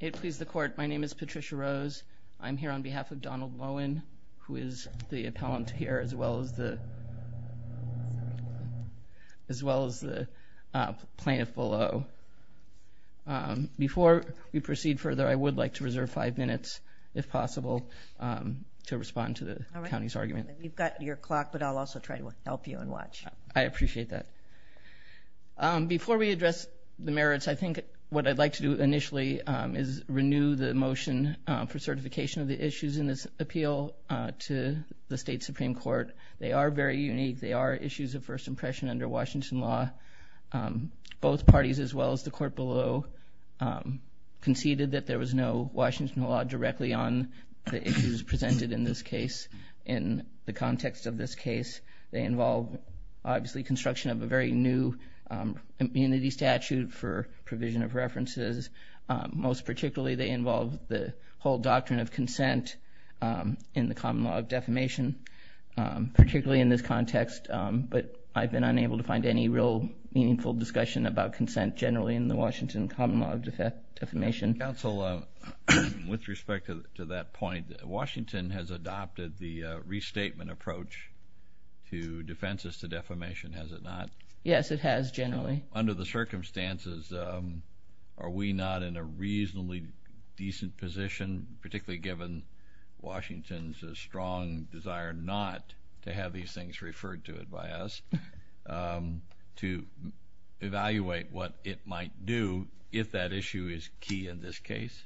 It please the court. My name is Patricia Rose. I'm here on behalf of Donald Loen, who is the appellant here, as well as the plaintiff below. Before we proceed further, I would like to reserve five minutes, if possible, to respond to the county's argument. You've got your clock, but I'll also try to help you and watch. I appreciate that. Before we address the merits, I think what I'd like to do initially is renew the motion for certification of the issues in this appeal to the state Supreme Court. They are very unique. They are issues of first impression under Washington law. Both parties, as well as the court below, conceded that there was no Washington law directly on the issues presented in this case. In the context of this case, they involve, obviously, construction of a very new immunity statute for provision of references. Most particularly, they involve the whole doctrine of consent in the common law of defamation, particularly in this context, but I've been unable to find any real meaningful discussion about consent generally in the Washington common law of defamation. Counsel, with respect to that point, Washington has adopted the restatement approach to defenses to defamation, has it not? Yes, it has, generally. Under the circumstances, are we not in a reasonably decent position, particularly given Washington's strong desire not to have these things referred to it by us, to evaluate what it might do if that issue is key in this case?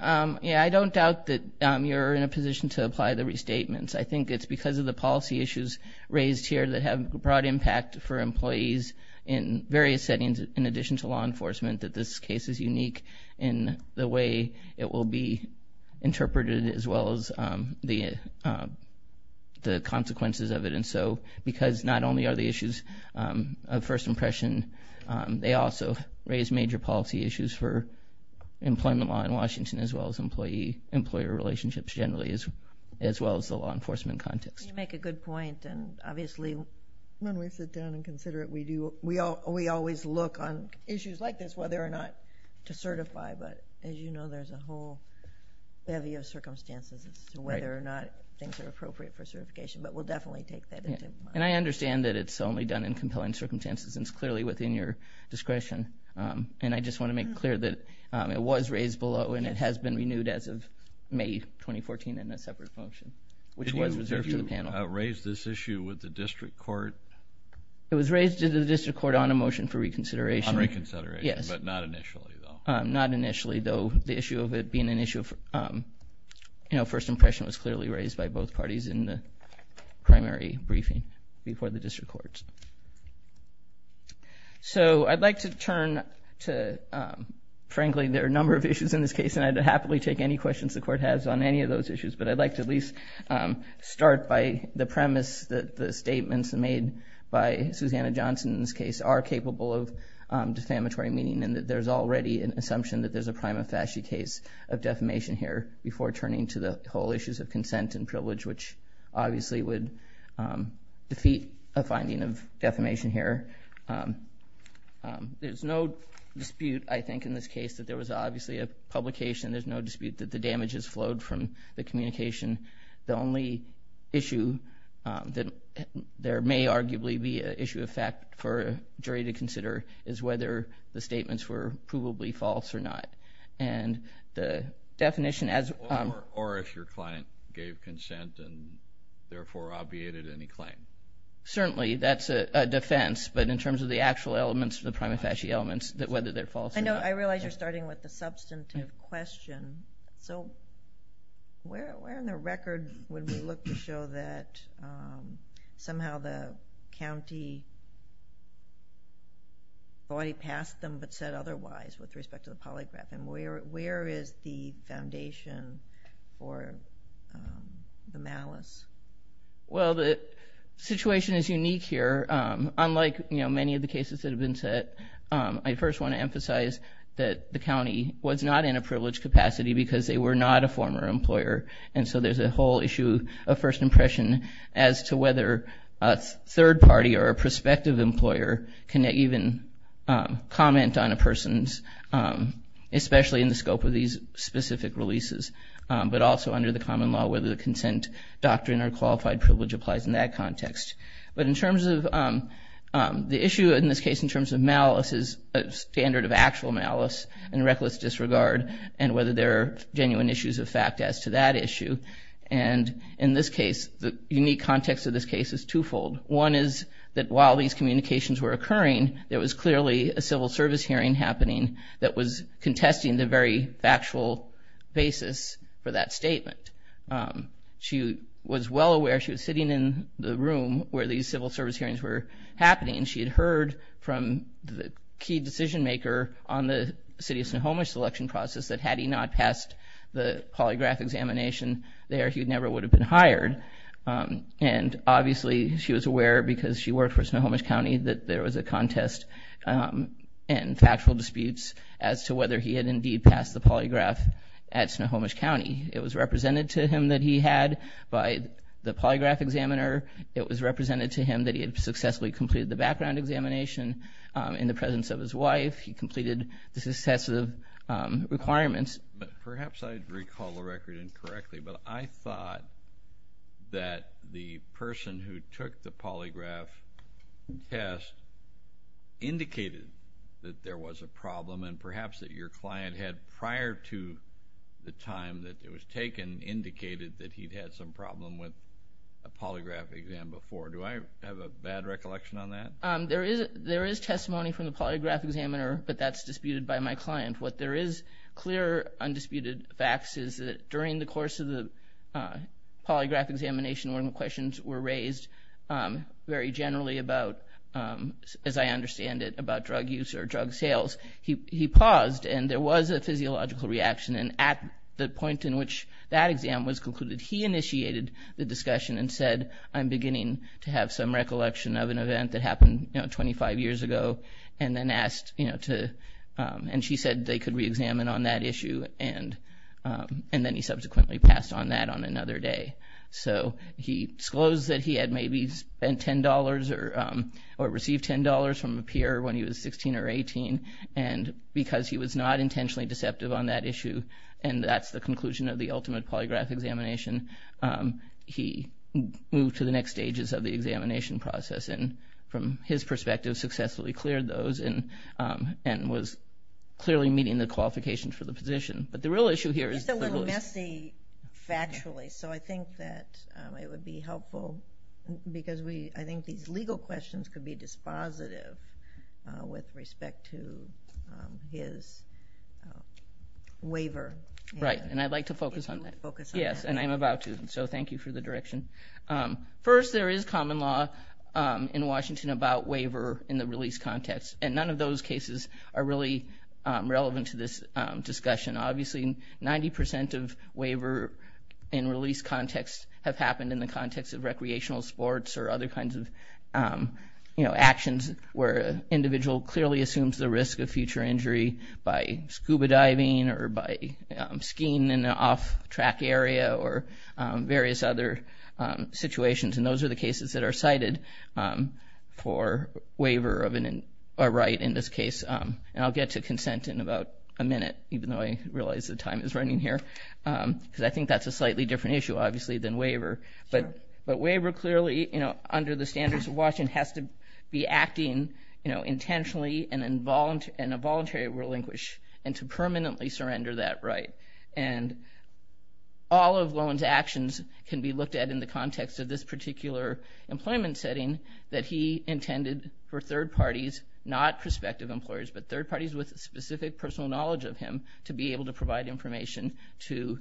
Yeah, I don't doubt that you're in a position to apply the restatements. I think it's because of the policy issues raised here that have a broad impact for employees in various settings, in addition to law enforcement, that this case is unique in the way it will be interpreted, as well as the consequences of it. And so, because not only are the issues of first impression, they also raise major policy issues for employee-employer relationships, generally, as well as the law enforcement context. You make a good point, and obviously, when we sit down and consider it, we always look on issues like this, whether or not to certify, but as you know, there's a whole bevy of circumstances as to whether or not things are appropriate for certification, but we'll definitely take that into account. And I understand that it's only done in compelling circumstances, and it's clearly within your discretion, and I just want to make clear that it was raised below, and it has been renewed as of May 2014 in a separate motion, which was reserved to the panel. Did you raise this issue with the district court? It was raised to the district court on a motion for reconsideration. On reconsideration, but not initially, though. Not initially, though, the issue of it being an issue of, you know, first impression was clearly raised by both parties in the primary briefing before the district courts. So, I'd like to turn to, frankly, there are a number of issues in this case, and I'd happily take any questions the court has on any of those issues, but I'd like to at least start by the premise that the statements made by Susanna Johnson in this case are capable of defamatory meaning, and that there's already an assumption that there's a prima facie case of defamation here before turning to the whole issues of consent and privilege, which obviously would defeat a finding of defamation here. There's no dispute, I think, in this case that there was obviously a publication. There's no dispute that the damages flowed from the communication. The only issue that there may arguably be an issue of fact for a jury to consider is whether the statements were provably false or not, and the definition as... Or if your client gave consent and therefore obviated any claim. Certainly, that's a defense, but in terms of the actual elements, the prima facie elements, that whether they're false or not. I realize you're starting with the substantive question, so where in the record would we look to show that somehow the county body passed them but said otherwise with respect to the polygraph, and where is the foundation for the malice? Well, the situation is unique here. Unlike, you know, many of the cases that have been said, I first want to emphasize that the county was not in a privileged capacity because they were not a former employer, and so there's a whole issue of first impression as to whether a third party or a prospective employer can even comment on a person's... Especially in the scope of these specific releases, but also under the common law, whether the consent doctrine or qualified privilege applies in that context. But in terms of... The issue in this case, in terms of malice, is a standard of actual malice and reckless disregard, and whether there are genuine issues of fact as to that issue. And in this case, the unique context of this case is twofold. One is that while these communications were occurring, there was clearly a civil service hearing happening that was contesting the very factual basis for that statement. She was well aware, she was sitting in the room where these civil service hearings were happening, and she had heard from the key decision maker on the city of Snohomish selection process that had he not passed the polygraph examination there, he never would have been hired. And obviously, she was aware because she worked for Snohomish County that there was a contest and factual disputes as to whether he had indeed passed the polygraph at Snohomish County. It was represented to him that he had by the polygraph examiner. It was represented to him that he had successfully completed the background examination in the presence of his wife. He completed the successive requirements. But perhaps I recall the record incorrectly, but I thought that the person who took the polygraph test indicated that there was a problem, and perhaps that your client had, prior to the time that it was taken, indicated that he'd had some problem with a polygraph exam before. Do I have a bad recollection on that? There is testimony from the polygraph examiner, but that's disputed by my client. What there is clear, undisputed facts is that during the course of the polygraph examination, when the questions were raised very generally about, as I understand it, about drug use or drug sales, he paused and there was a physiological reaction. And at the point in which that exam was concluded, he initiated the discussion and said, I'm beginning to have some recollection of an event that happened, you know, 25 years ago. And then asked, you know, to, and she said they could re-examine on that issue. And then he subsequently passed on that on another day. So he disclosed that he had maybe spent $10 or received $10 from a peer when he was 16 or 18. And because he was not intentionally deceptive on that issue, and that's the conclusion of the ultimate polygraph examination, he moved to the next stages of the examination process. And from his perspective, successfully cleared those and was clearly meeting the qualifications for the position. But the real issue here is... It's a little messy, factually. So I think that it would be helpful because we, I think these legal questions could be dispositive with respect to his waiver. Right. And I'd like to focus on that. Yes. And I'm about to. So thank you for the direction. First, there is common law in Washington about waiver in the release context. And none of those cases are really relevant to this discussion. Obviously, 90% of waiver in release context have happened in the context of recreational sports or other kinds of, you know, actions where an individual clearly assumes the risk of future injury by scuba diving or by skiing in an off-track area or various other situations. And those are the cases that are cited for waiver of a right in this case. And I'll get to consent in about a minute, even though I realize the time is running here, because I think that's a slightly different issue, obviously, than waiver. But waiver clearly, you know, under the standards of Washington has to be acting, you know, intentionally and involuntarily relinquish and to permanently surrender that right. And all of Lowen's actions can be looked at in the context of this particular employment setting that he intended for third parties, not prospective employers, but third parties with specific personal knowledge of him to be able to provide information to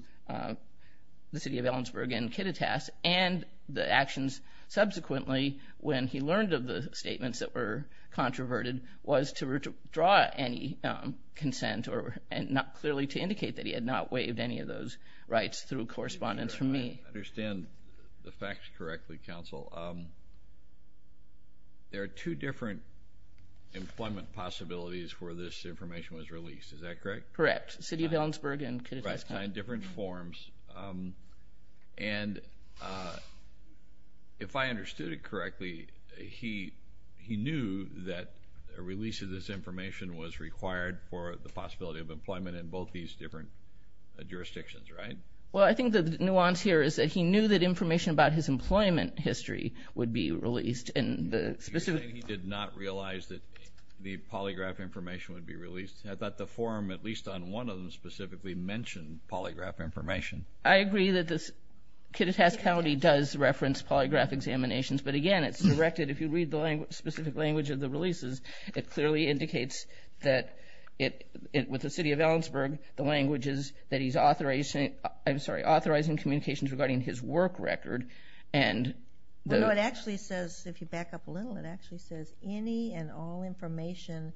the city of Ellensburg and Kittitas and the actions subsequently when he learned of the statements that were controverted was to withdraw any consent or and not clearly to indicate that he had not waived any of those rights through correspondence from me. I understand the facts correctly, counsel. There are two different employment possibilities where this information was released, is that correct? Correct. City of Ellensburg and Kittitas. Different forms, and if I understood it correctly, he knew that a release of this information was required for the possibility of employment in both these different jurisdictions, right? Well, I think the nuance here is that he knew that information about his employment history would be released in the specific... You're saying he did not realize that the polygraph information would be mentioned polygraph information? I agree that this Kittitas County does reference polygraph examinations, but again, it's directed if you read the specific language of the releases, it clearly indicates that with the city of Ellensburg, the languages that he's authorizing, I'm sorry, authorizing communications regarding his work record and... No, it actually says, if you back up a little, it actually says any and all information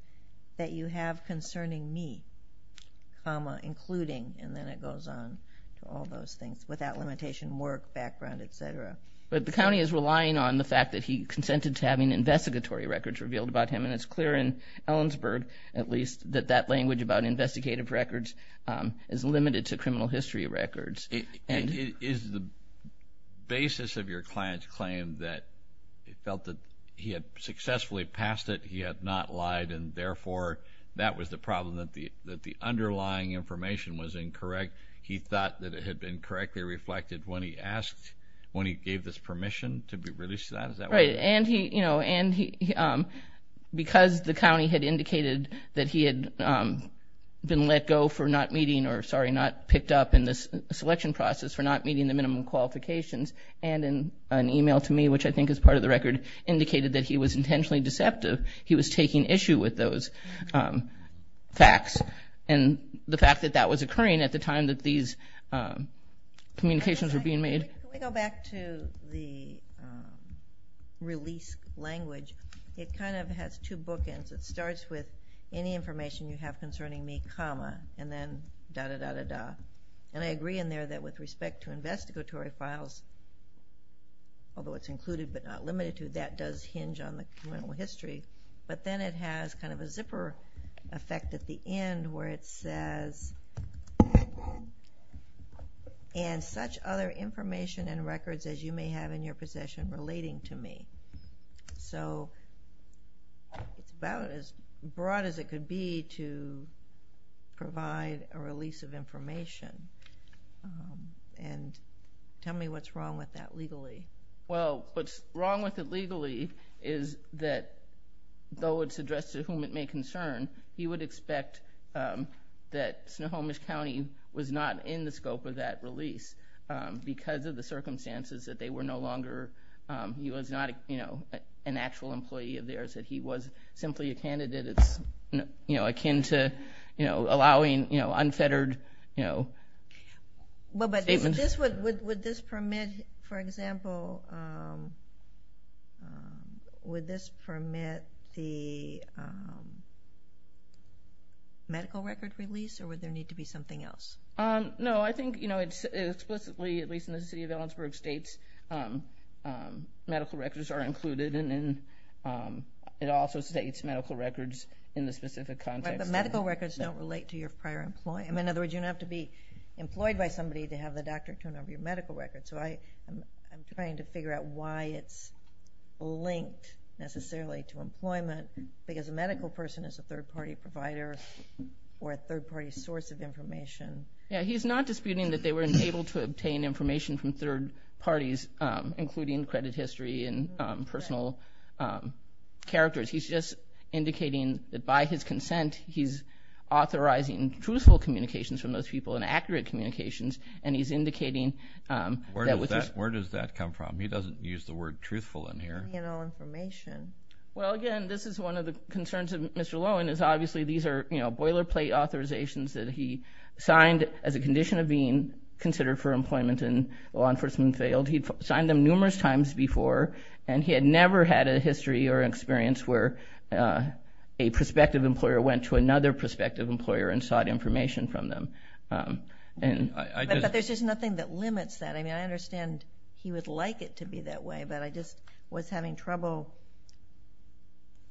that you have concerning me, including, and then it goes on to all those things, without limitation, work, background, etc. But the county is relying on the fact that he consented to having investigatory records revealed about him, and it's clear in Ellensburg, at least, that that language about investigative records is limited to criminal history records. Is the basis of your client's claim that it felt that he had successfully passed it, he had not lied, and therefore that was the problem that the underlying information was incorrect? He thought that it had been correctly reflected when he asked, when he gave this permission to be released? Right, and he, you know, and because the county had indicated that he had been let go for not meeting, or sorry, not picked up in this selection process for not meeting the minimum qualifications, and in an email to me, which I think is part of the record, indicated that he was intentionally deceptive. He was taking issue with those facts, and the fact that that was occurring at the time that these communications were being made. Can we go back to the release language? It kind of has two bookends. It starts with any information you have concerning me, comma, and then da-da-da-da-da. And I agree in there that with respect to investigatory files, although it's included but not limited to, that does hinge on the criminal history, but then it has kind of a zipper effect at the end where it says, and such other information and records as you may have in your possession relating to me. So, it's about as broad as it could be to provide a release of information, and tell me what's wrong with that legally. Well, what's wrong with it legally is that, though it's addressed to whom it may concern, you would expect that Snohomish County was not in the scope of that release because of the circumstances that they were no longer, he was not, you know, an actual employee of theirs, that he was simply a candidate that's, you know, akin to, you know, allowing, you know, unfettered, you know, statements. Well, but this would, would this permit, for example, would this permit the medical record release or would there need to be something else? No, I think, you know, it's explicitly, at least in the city of Ellensburg, states medical records are included, and it also states medical records in the specific context. But the medical records don't relate to your prior employee. I mean, in other words, you don't have to be employed by somebody to have the doctor turn over your medical record. So I'm trying to figure out why it's linked necessarily to employment, because a medical person is a third-party provider or a third-party source of information. Yeah, he's not disputing that they were unable to obtain information from third parties, including credit history and personal characters. He's just indicating that by his consent, he's authorizing truthful communications from those people and accurate communications, and he's indicating that... Where does that come from? He doesn't use the word truthful in here. Well, again, this is one of the concerns of Mr. Lowen, is obviously these are, you know, boilerplate authorizations that he signed as a condition of being considered for employment, and law enforcement failed. He'd signed them numerous times before, and he had never had a history or experience where a prospective employer went to another prospective employer and sought information from them. But there's just nothing that limits that. I mean, I understand he would like it to be that way, but I just was having trouble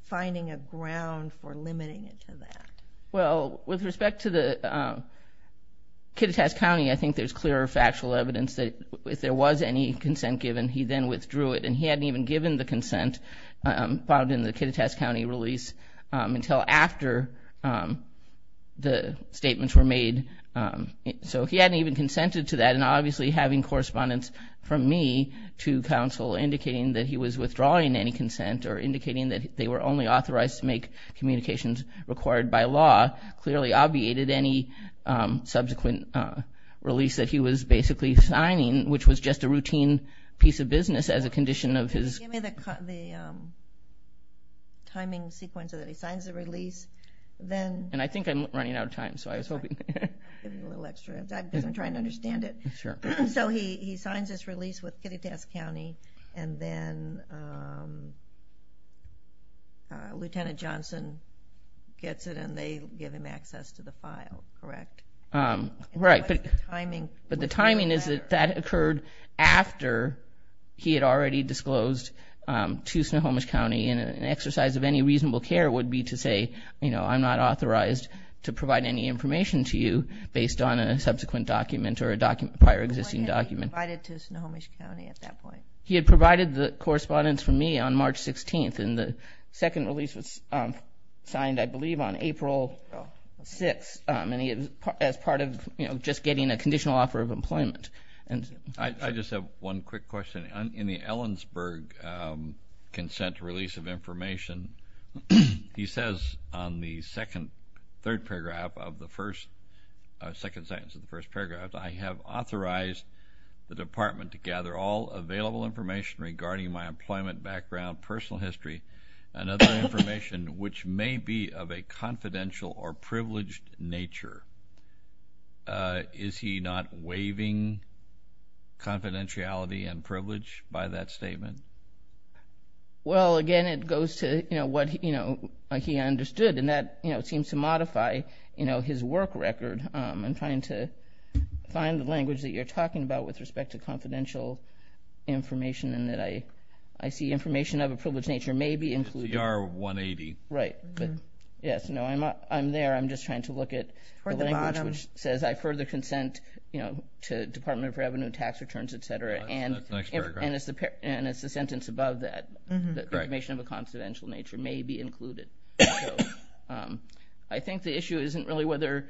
finding a ground for limiting it to that. Well, with respect to the Kittitas County, I think there's clear factual evidence that if there was any consent given, he then withdrew it, and he hadn't even given the consent filed in the statements were made. So he hadn't even consented to that, and obviously having correspondence from me to counsel indicating that he was withdrawing any consent or indicating that they were only authorized to make communications required by law clearly obviated any subsequent release that he was basically signing, which was just a routine piece of business as a condition of his... Give me the timing sequence so that he signs the release, then... And I think I'm running out of time, so I was hoping... I'll give you a little extra, because I'm trying to understand it. Sure. So he signs this release with Kittitas County, and then Lieutenant Johnson gets it, and they give him access to the file, correct? Right, but the timing is that that occurred after he had already disclosed to Snohomish County, and an exercise of any reasonable care would be to say, you know, I'm not authorized to provide any information to you based on a subsequent document or a prior existing document. When had he provided to Snohomish County at that point? He had provided the correspondence from me on March 16th, and the second release was signed, I believe, on April 6th, as part of, you know, just getting a conditional offer of employment. I just have one quick question. In the Augsburg consent release of information, he says on the second, third paragraph of the first, second sentence of the first paragraph, I have authorized the department to gather all available information regarding my employment background, personal history, and other information which may be of a confidential or privileged nature. Is he not waiving confidentiality and Well, again, it goes to, you know, what he understood, and that, you know, seems to modify, you know, his work record. I'm trying to find the language that you're talking about with respect to confidential information, and that I see information of a privileged nature may be included. CR 180. Right, but yes, no, I'm there. I'm just trying to look at the language which says I further consent, you know, to Department of Revenue tax returns, etc., and it's the sentence above that, that information of a confidential nature may be included. I think the issue isn't really whether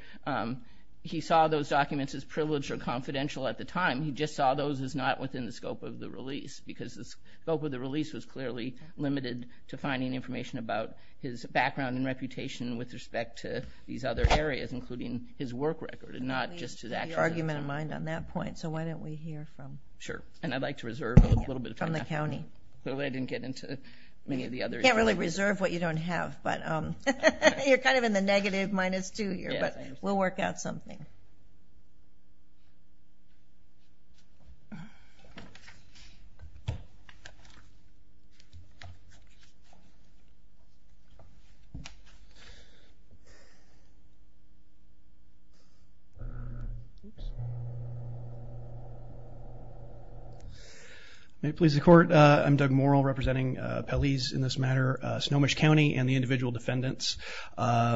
he saw those documents as privileged or confidential at the time. He just saw those as not within the scope of the release, because the scope of the release was clearly limited to finding information about his background and reputation with respect to these other areas, including his work record, and not just to that argument in mind on that point. So why don't we hear from, sure, and I'd like to reserve a little bit from the county. I didn't get into many of the other... You can't really reserve what you don't have, but you're kind of in the negative minus two here, but we'll work out something. May it please the court, I'm Doug Morrill, representing Pelley's in this matter, Snohomish County, and the individual defendants. I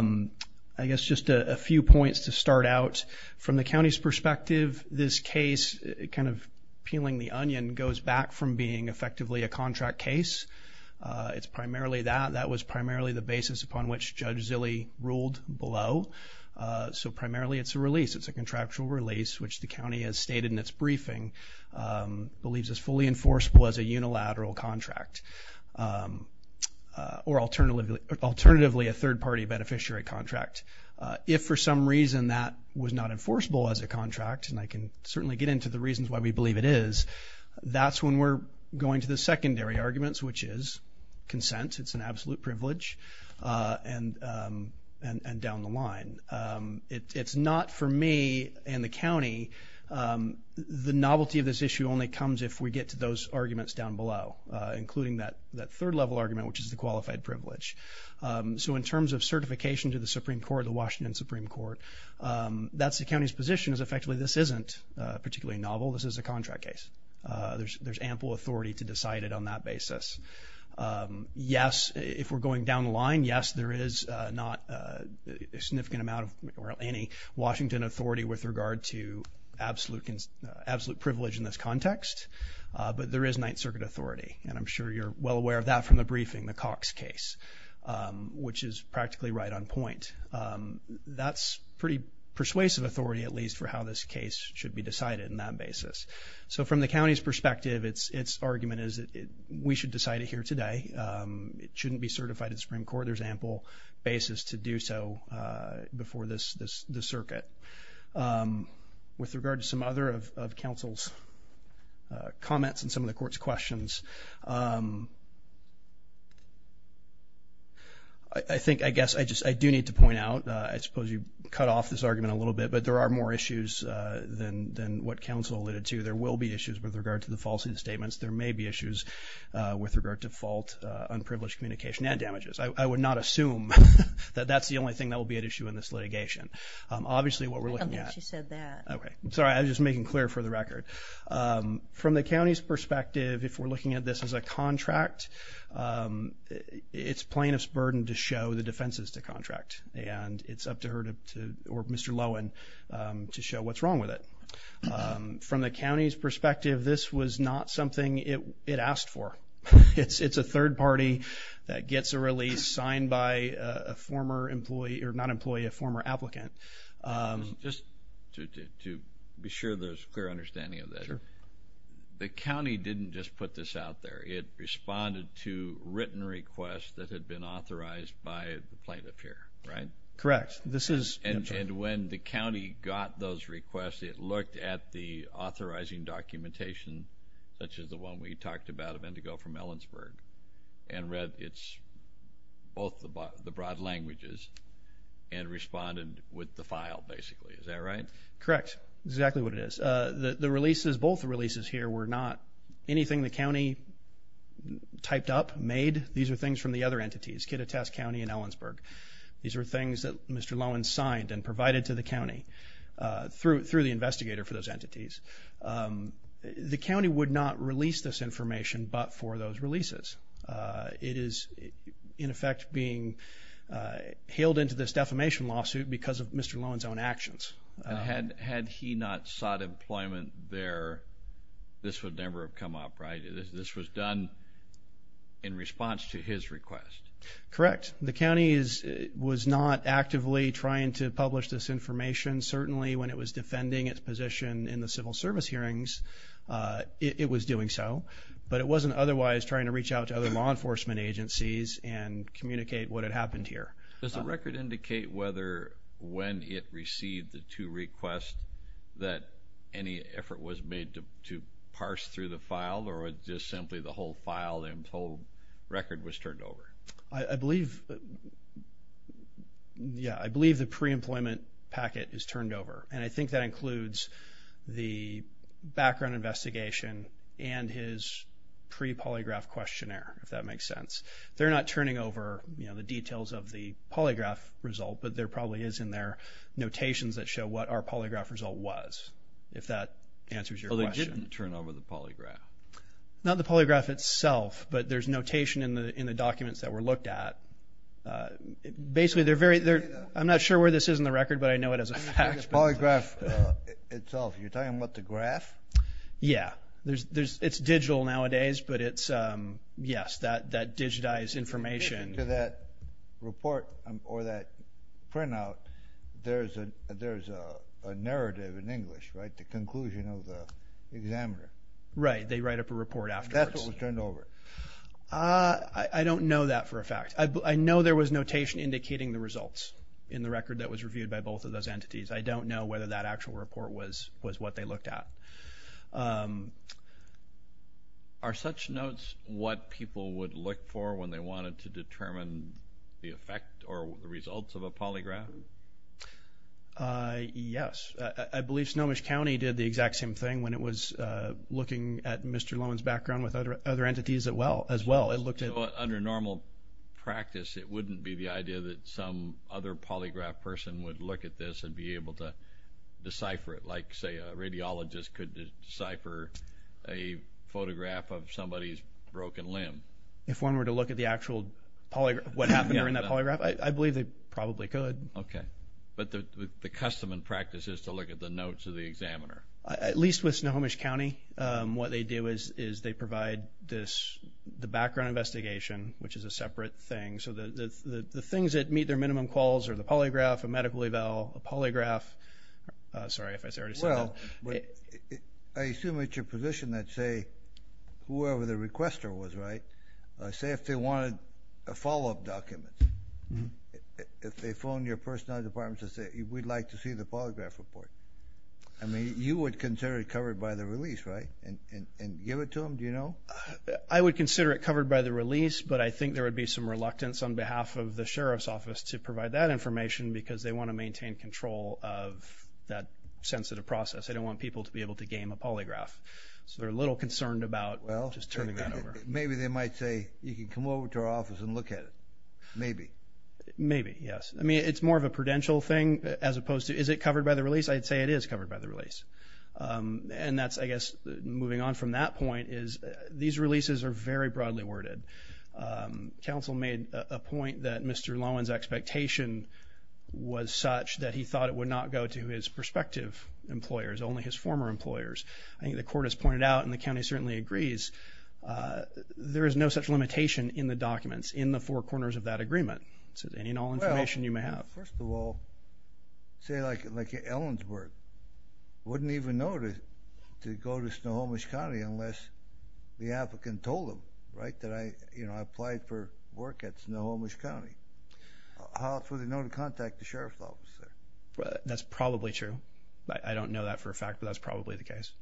guess just a few points to kind of peeling the onion goes back from being effectively a contract case. It's primarily that. That was primarily the basis upon which Judge Zille ruled below. So primarily it's a release. It's a contractual release, which the county has stated in its briefing, believes is fully enforceable as a unilateral contract, or alternatively a third-party beneficiary contract. If for some reason that was not enforceable as a contract, and I can certainly get into the reasons why we believe it is, that's when we're going to the secondary arguments, which is consent. It's an absolute privilege, and down the line. It's not for me and the county. The novelty of this issue only comes if we get to those arguments down below, including that third-level argument, which is the qualified privilege. So in terms of certification to the Supreme Court, the Washington Supreme Court, that's the county's position is effectively this isn't particularly novel. This is a contract case. There's ample authority to decide it on that basis. Yes, if we're going down the line, yes, there is not a significant amount of any Washington authority with regard to absolute privilege in this context, but there is Ninth Circuit authority, and I'm sure you're well aware of that from the briefing, the Cox case, which is practically right on point. That's pretty persuasive authority at least for how this case should be decided in that basis. So from the county's perspective, it's argument is that we should decide it here today. It shouldn't be certified at Supreme Court. There's ample basis to do so before this circuit. With regard to some other of counsel's comments and some of the court's questions, I think, I guess, I just, I do need to point out, I think there are more issues than what counsel alluded to. There will be issues with regard to the falsity of the statements. There may be issues with regard to fault, unprivileged communication, and damages. I would not assume that that's the only thing that will be at issue in this litigation. Obviously, what we're looking at... I don't think she said that. Okay, I'm sorry. I'm just making clear for the record. From the county's perspective, if we're looking at this as a contract, it's plaintiff's burden to show the defenses to contract. And it's up to her to, or Mr. Lowen, to show what's wrong with it. From the county's perspective, this was not something it asked for. It's a third party that gets a release signed by a former employee, or not employee, a former applicant. Just to be sure there's clear understanding of that, the county didn't just put this out there. It responded to by the plaintiff here, right? Correct. And when the county got those requests, it looked at the authorizing documentation, such as the one we talked about of Indigo from Ellensburg, and read both the broad languages, and responded with the file, basically. Is that right? Correct. Exactly what it is. The releases, both releases here, were not anything the county typed up, made. These are things from the other entities, Kittitas County and Ellensburg. These are things that Mr. Lowen signed and provided to the county through the investigator for those entities. The county would not release this information but for those releases. It is, in effect, being hailed into this defamation lawsuit because of Mr. Lowen's own actions. Had he not sought employment there, this would never have come up, right? This was done in response to his request. Correct. The county was not actively trying to publish this information. Certainly, when it was defending its position in the civil service hearings, it was doing so. But it wasn't otherwise trying to reach out to other law enforcement agencies and communicate what had happened here. Does the record indicate whether, when it received the two requests, that any effort was made to parse through the file, or it's just simply the whole file and the whole record was turned over? I believe, yeah, I believe the pre-employment packet is turned over. And I think that includes the background investigation and his pre-polygraph questionnaire, if that makes sense. They're not turning over, you know, the details of the polygraph result, but there probably is in their notations that show what our polygraph result was, if that answers your question. Oh, they didn't turn over the polygraph? Not the polygraph itself, but there's notation in the documents that were looked at. Basically, they're very, I'm not sure where this is in the record, but I know it as a fact. The polygraph itself, you're talking about the graph? Yeah, it's digital nowadays, but it's, yes, that digitized information. In addition to that report or that printout, there's a narrative in English, right, the conclusion of the examiner. Right, they write up a report afterwards. That's what was turned over. I don't know that for a fact. I know there was notation indicating the results in the record that was reviewed by both of those entities. I don't know whether that actual report was what they looked at. Are such notes what people would look for when they wanted to determine the effect or the results of a polygraph? Yes, I believe Snohomish County did the exact same thing when it was looking at Mr. Lowen's background with other entities as well. Under normal practice, it wouldn't be the idea that some other polygraph person would look at this and be able to decipher it, like say a radiologist could decipher a photograph of somebody's broken limb. If one were to look at the actual polygraph, what happened in that polygraph, I believe they probably could. Okay, but the custom and practice is to look at the notes of the examiner. At least with Snohomish County, what they do is they provide this, the background investigation, which is a separate thing, so the things that meet their minimum quals are the polygraph, a medical eval, a polygraph. Sorry if I said that. Well, I assume at your position that, say, whoever the requester was, right, say if they wanted a follow-up document, if they phoned your personality department to say we'd like to see the polygraph report. I mean, you would consider it covered by the release, right, and give it to them, do you know? I would consider it covered by the release, but I think there would be some reluctance on behalf of the Sheriff's Office to provide that information because they want to maintain control of that sensitive process. They don't want people to be able to game a polygraph, so they're a little concerned about just turning that over. Maybe they might say you can come over to our office and look at it, maybe. Maybe, yes. I mean, it's more of a prudential thing as opposed to, is it covered by the release? I'd say it is covered by the release, and that's, I guess, moving on from that point is these releases are very broadly worded. Council made a point that Mr. Lowen's expectation was such that he thought it would not go to his prospective employers, only his former employers. I think the court has pointed out, and the county certainly agrees, there is no such limitation in the documents in the four corners of that agreement. So, any and all information you may have. Well, first of all, say like Ellen's work, wouldn't even know to go to Snohomish County unless the applicant told them, right, that I, you know, I applied for work at Snohomish County. How else would they know to contact the sheriff's office? That's probably true. I don't know that for a fact, but that's probably the case.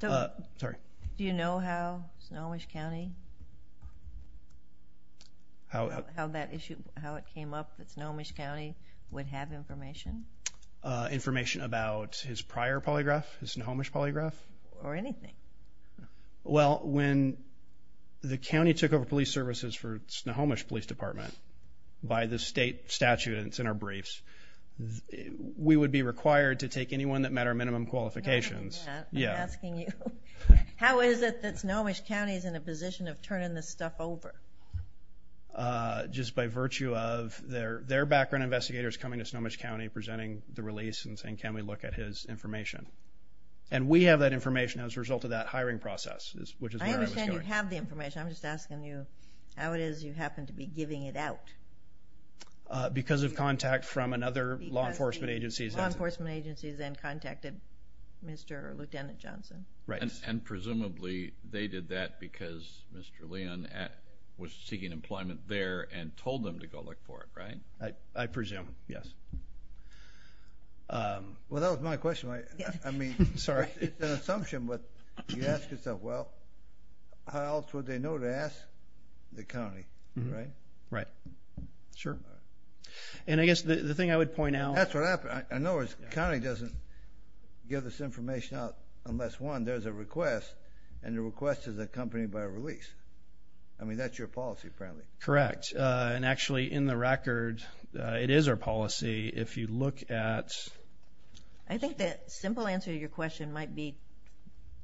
Do you know how Snohomish County, how that issue, how it came up that Snohomish County would have information? Information about his prior polygraph, his Snohomish polygraph? Or anything. Well, when the county took over police services for Snohomish Police Department by the state statute, and it's in our briefs, we would be required to take anyone that met our minimum qualifications. Yeah. I'm asking you. How is it that Snohomish County is in a position of turning this stuff over? Just by virtue of their background investigators coming to Snohomish County, presenting the release, and saying, can we look at his information? And we have that information as a result of that hiring process, which is where I was going. You have the information. I'm just asking you, how it is you happen to be giving it out? Because of contact from another law enforcement agency. Law enforcement agencies then contacted Mr. Lieutenant Johnson. Right. And presumably they did that because Mr. Leon was seeking employment there and told them to go look for it, right? I presume, yes. Well, that was my question. I mean, it's an assumption, but you ask yourself, well, how else would they know to ask the county, right? Right. Sure. And I guess the thing I would point out... That's what happened. I know the county doesn't give this information out unless, one, there's a request, and the request is accompanied by a release. I mean, that's your policy, apparently. Correct. And actually, in the record, it is our policy. If you look at... I think the simple answer to your question might be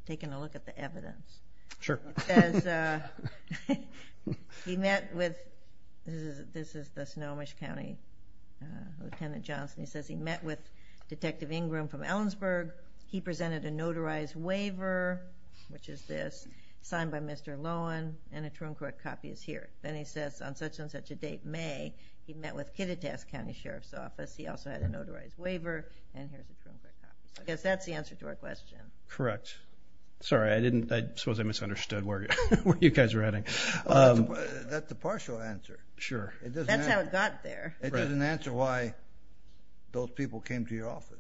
taking a look at the evidence. Sure. It says, he met with... This is the Snohomish County, Lieutenant Johnson. He says he met with Detective Ingram from Ellensburg. He presented a notarized waiver, which is this, signed by Mr. Lohan, and a Troom Court copy is here. Then he says, on such and such a date, May, he met with Kittitas County Sheriff's Office. He also had a notarized waiver, and here's a Troom Court copy. I guess that's the answer to our question. Correct. Sorry, I didn't... I suppose I misunderstood where you guys were heading. That's the partial answer. Sure. It doesn't matter. That's how it got there. It doesn't answer why those people came to your office.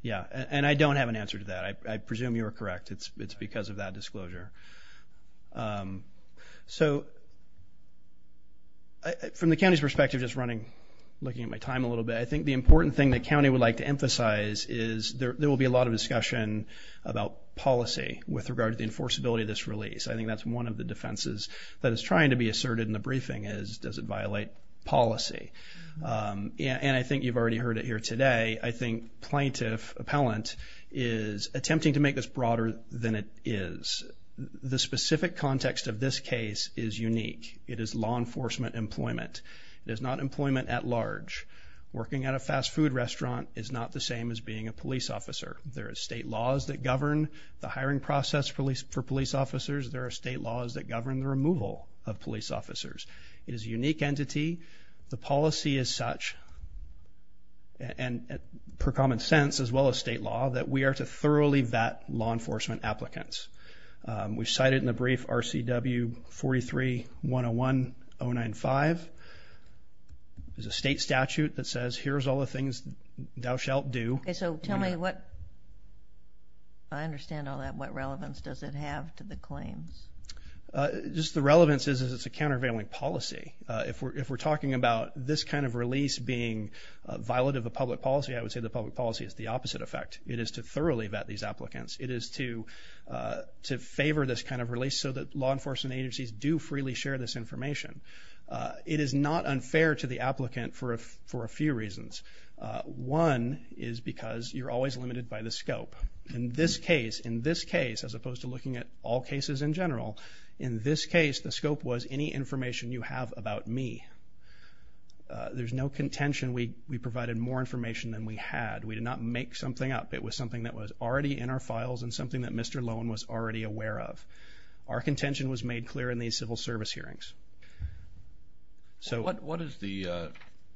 Yeah, and I don't have an answer to that. I presume you're correct. It's because of that disclosure. So, from the county's perspective, just running, looking at my time a little bit, I think the important thing that county would like to emphasize is there will be a lot of discussion about policy with regard to the enforceability of this release. I think that's one of the defenses that is trying to be asserted in the briefing is, does it violate policy? And I think you've already heard it here today. I think plaintiff, appellant, is attempting to make this broader than it is. The specific context of this case is unique. It is law enforcement employment. It is not employment at large. Working at a fast food restaurant is not the same as being a police officer. There are state laws that govern the hiring process for police officers. There are state laws that govern the removal of police officers. It is a unique entity. The policy is such, and per common sense as well as state law, that we are to thoroughly vet law enforcement applicants. We've cited in the brief RCW 43-101-095. There's a state statute that says here's all the things thou shalt do. Okay, so tell me what, I understand all that, what relevance does it have to the claims? Just the relevance is it's a countervailing policy. If we're talking about this kind of release being a violative of public policy, I would say the public policy is the opposite effect. It is to thoroughly vet these applicants. It is to favor this kind of release so that law enforcement agencies do freely share this information. It is not unfair to the applicant for a few reasons. One is because you're always limited by the scope. In this case, in this case, as opposed to looking at all cases in general, in this case the scope was any information you have about me. There's no contention we provided more information than we had. We did not make something up. It was something that was already in our files and something that Mr. Lowen was already aware of. Our contention was made clear in these civil service hearings. So what is the,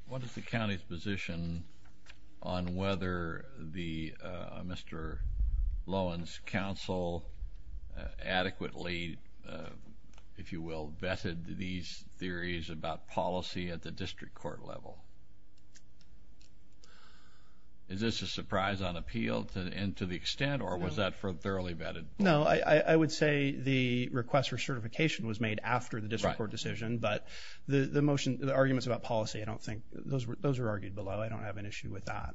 what is the county's position on whether the Mr. Lowen's counsel adequately, if you will, vetted these theories about policy at the district court level? Is this a surprise on appeal and to the extent, or was that for a thoroughly vetted? No, I would say the request for certification was made after the district court decision, but the motion, the arguments about policy, I don't think those were, those were argued below. I don't have an issue with that.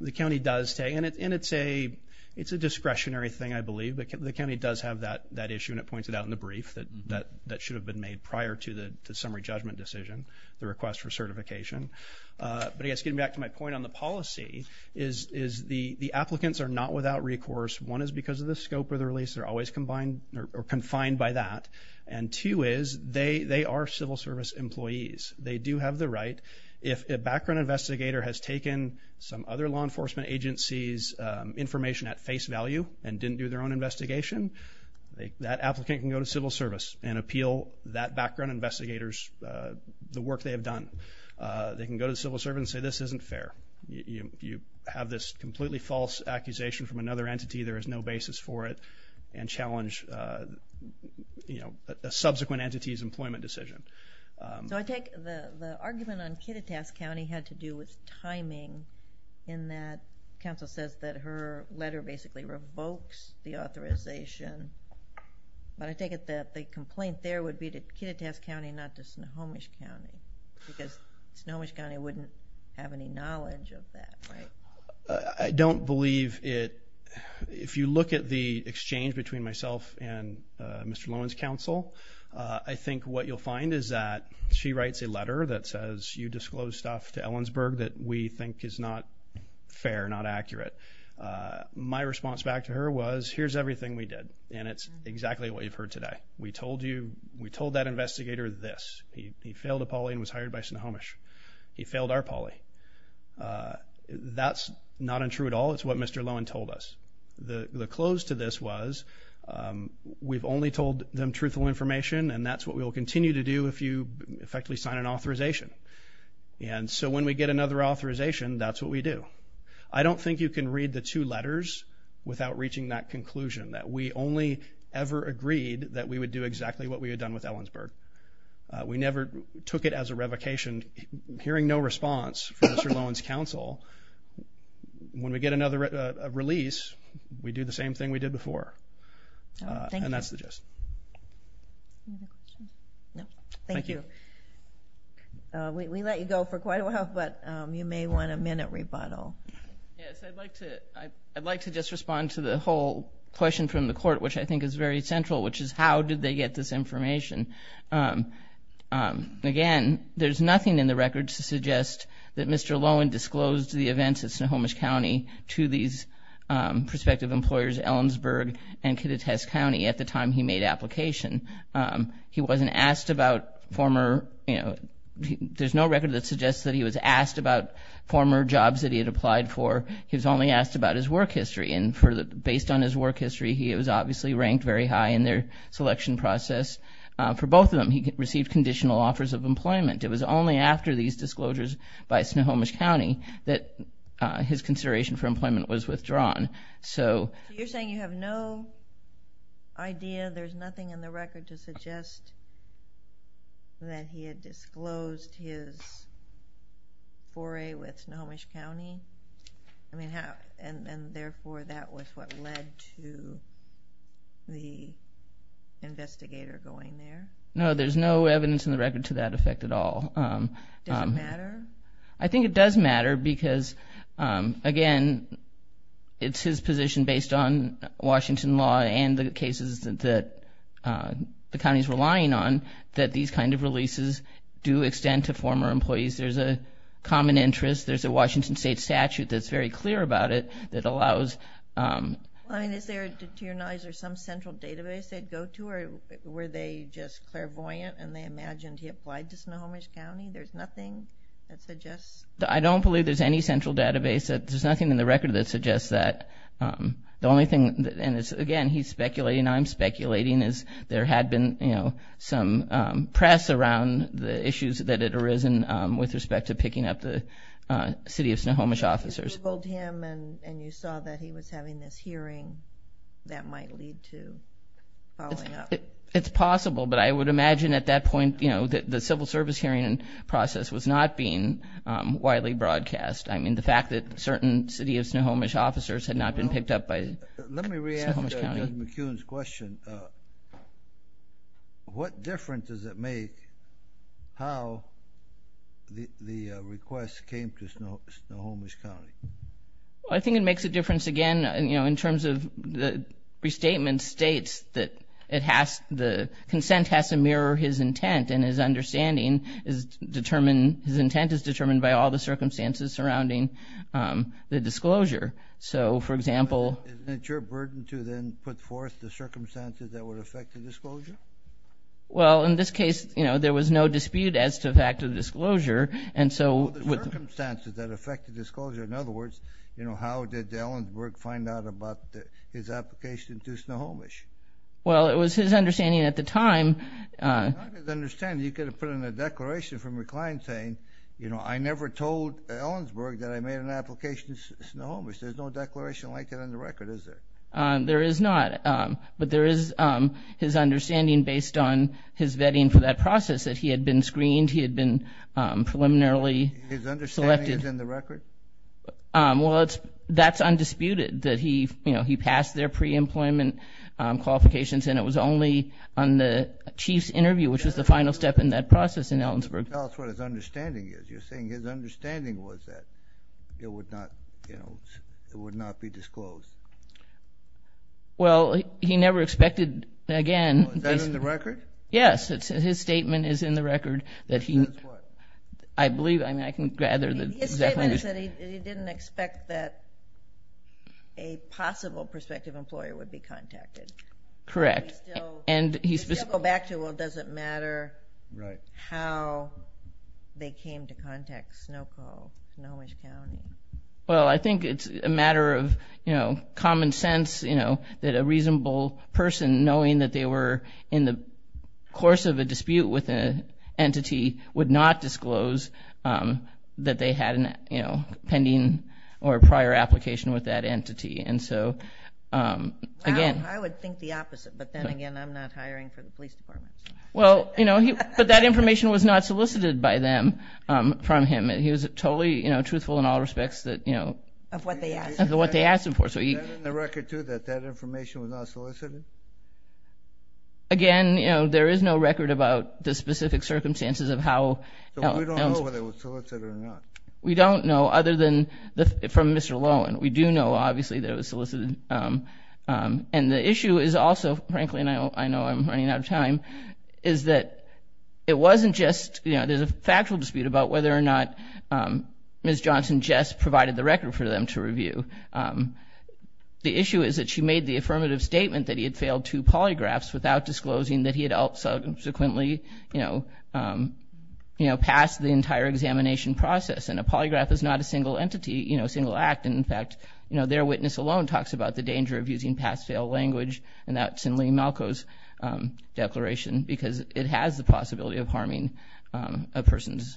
The county does say, and it's a, it's a discretionary thing, I believe, but the county does have that, that issue, and it points it out in the brief that, that, that should have been made prior to the summary judgment decision, the request for certification. But I guess getting back to my point on the policy is, is the, the applicants are not without recourse. One is because of the scope of the release, they're always combined or confined by that, and two is they, they are civil service employees. They do have the right, if a background investigator has taken some other law enforcement agency's information at face value and didn't do their own investigation, they, that applicant can go to civil service and appeal that background investigator's, the work they have done. They can go to civil service and say this isn't fair. You have this completely false accusation from another entity, there is no basis for it, and challenge, you know, a subsequent entity's employment decision. So I take the, the argument on Kittitas County had to do with timing in that counsel says that her letter basically revokes the authorization, but I take it that the complaint there would be to Kittitas County, not to Snohomish County, because Snohomish County wouldn't have any knowledge of that, right? I don't believe it, if you look at the exchange between myself and Mr. Lowen's counsel, I think what you'll find is that she writes a letter that says you disclose stuff to Ellensburg that we think is not fair, not accurate. My response back to her was, here's everything we did, and it's exactly what you've heard today. We told you, we told that investigator this, he failed a poly and was hired by Snohomish. He failed our poly. That's not untrue at all, it's what Mr. Lowen told us. The, the close to this was, we've only told them truthful information and that's what we will continue to do if you effectively sign an authorization. And so when we get another authorization, that's what we do. I don't think you can read the two that we only ever agreed that we would do exactly what we had done with Ellensburg. We never took it as a revocation. Hearing no response from Mr. Lowen's counsel, when we get another release, we do the same thing we did before, and that's the gist. No, thank you. We let you go for quite a while, but you may want a minute rebuttal. Yes, I'd like to, I'd like to just respond to the whole question from the court, which I think is very central, which is how did they get this information? Again, there's nothing in the records to suggest that Mr. Lowen disclosed the events at Snohomish County to these prospective employers Ellensburg and Kittitas County at the time he made application. He wasn't asked about former, you know, there's no record that suggests that he was asked about former jobs that he had applied for. He was only asked about his work history, and for the, based on his work history, he was obviously ranked very high in their selection process. For both of them, he received conditional offers of employment. It was only after these disclosures by Snohomish County that his consideration for employment was withdrawn. So you're saying you have no idea, there's nothing in the record to suggest that he had disclosed his foray with Snohomish County? I mean, and therefore that was what led to the investigator going there? No, there's no evidence in the record to that effect at all. Does it matter? I think it does matter because, again, it's his position based on Washington law and the cases that the county's relying on that these kind of releases do extend to former employees. There's a common interest, there's a Washington state statute that's very clear about it that allows... Is there, to your knowledge, some central database they'd go to? Or were they just clairvoyant and they imagined he applied to Snohomish County? There's nothing that suggests... I don't believe there's any central database. There's nothing in the record that suggests that. The only thing, and again, he's speculating, I'm speculating, is there had been, you know, some press around the issues that had arisen with respect to picking up the city of Snohomish officers. You told him and you saw that he was having this hearing that might lead to following up? It's possible, but I would imagine at that point, you know, that the certain city of Snohomish officers had not been picked up by Snohomish County. Let me re-ask Judge McCune's question. What difference does it make how the request came to Snohomish County? I think it makes a difference, again, you know, in terms of the restatement states that it has, the consent has to mirror his intent and his understanding is determined, his intent is the disclosure. So, for example... Isn't it your burden to then put forth the circumstances that would affect the disclosure? Well, in this case, you know, there was no dispute as to the fact of the disclosure and so... Well, the circumstances that affected the disclosure, in other words, you know, how did Ellensburg find out about his application to Snohomish? Well, it was his understanding at the time... Not his understanding. You could have put in a declaration from your application to Snohomish. There's no declaration like that on the record, is there? There is not, but there is his understanding based on his vetting for that process that he had been screened, he had been preliminarily selected... His understanding is in the record? Well, that's undisputed, that he, you know, he passed their pre-employment qualifications and it was only on the chief's interview, which was the final step in that process in Ellensburg. Tell us what his understanding is. You're saying his understanding was that it would not, you know, it would not be disclosed? Well, he never expected, again... Is that in the record? Yes, his statement is in the record that he... That's what? I believe, I mean, I can gather that... His statement is that he didn't expect that a possible prospective employer would be contacted. Correct. And he's... If you go back to, well, does it matter... Well, I think it's a matter of, you know, common sense, you know, that a reasonable person knowing that they were in the course of a dispute with an entity would not disclose that they had an, you know, pending or prior application with that entity. And so, again... I would think the opposite, but then again, I'm not hiring for the police department. Well, you know, but that all respects that, you know... Of what they asked. Of what they asked him for. Is that in the record too, that that information was not solicited? Again, you know, there is no record about the specific circumstances of how... So we don't know whether it was solicited or not? We don't know, other than from Mr. Lowen. We do know, obviously, that it was solicited. And the issue is also, frankly, and I know I'm running out of time, is that it wasn't just, you know, there's a Ms. Johnson just provided the record for them to review. The issue is that she made the affirmative statement that he had failed two polygraphs without disclosing that he had subsequently, you know, you know, passed the entire examination process. And a polygraph is not a single entity, you know, single act. In fact, you know, their witness alone talks about the danger of using pass-fail language. And that's in Lee Malko's declaration, because it has the possibility of harming a person's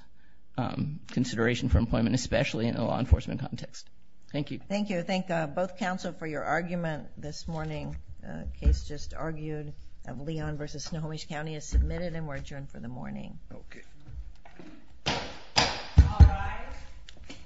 consideration for employment, especially in a law enforcement context. Thank you. Thank you. Thank both counsel for your argument this morning. The case just argued of Leon versus Snohomish County is submitted and we're adjourned for the morning. Okay. All rise.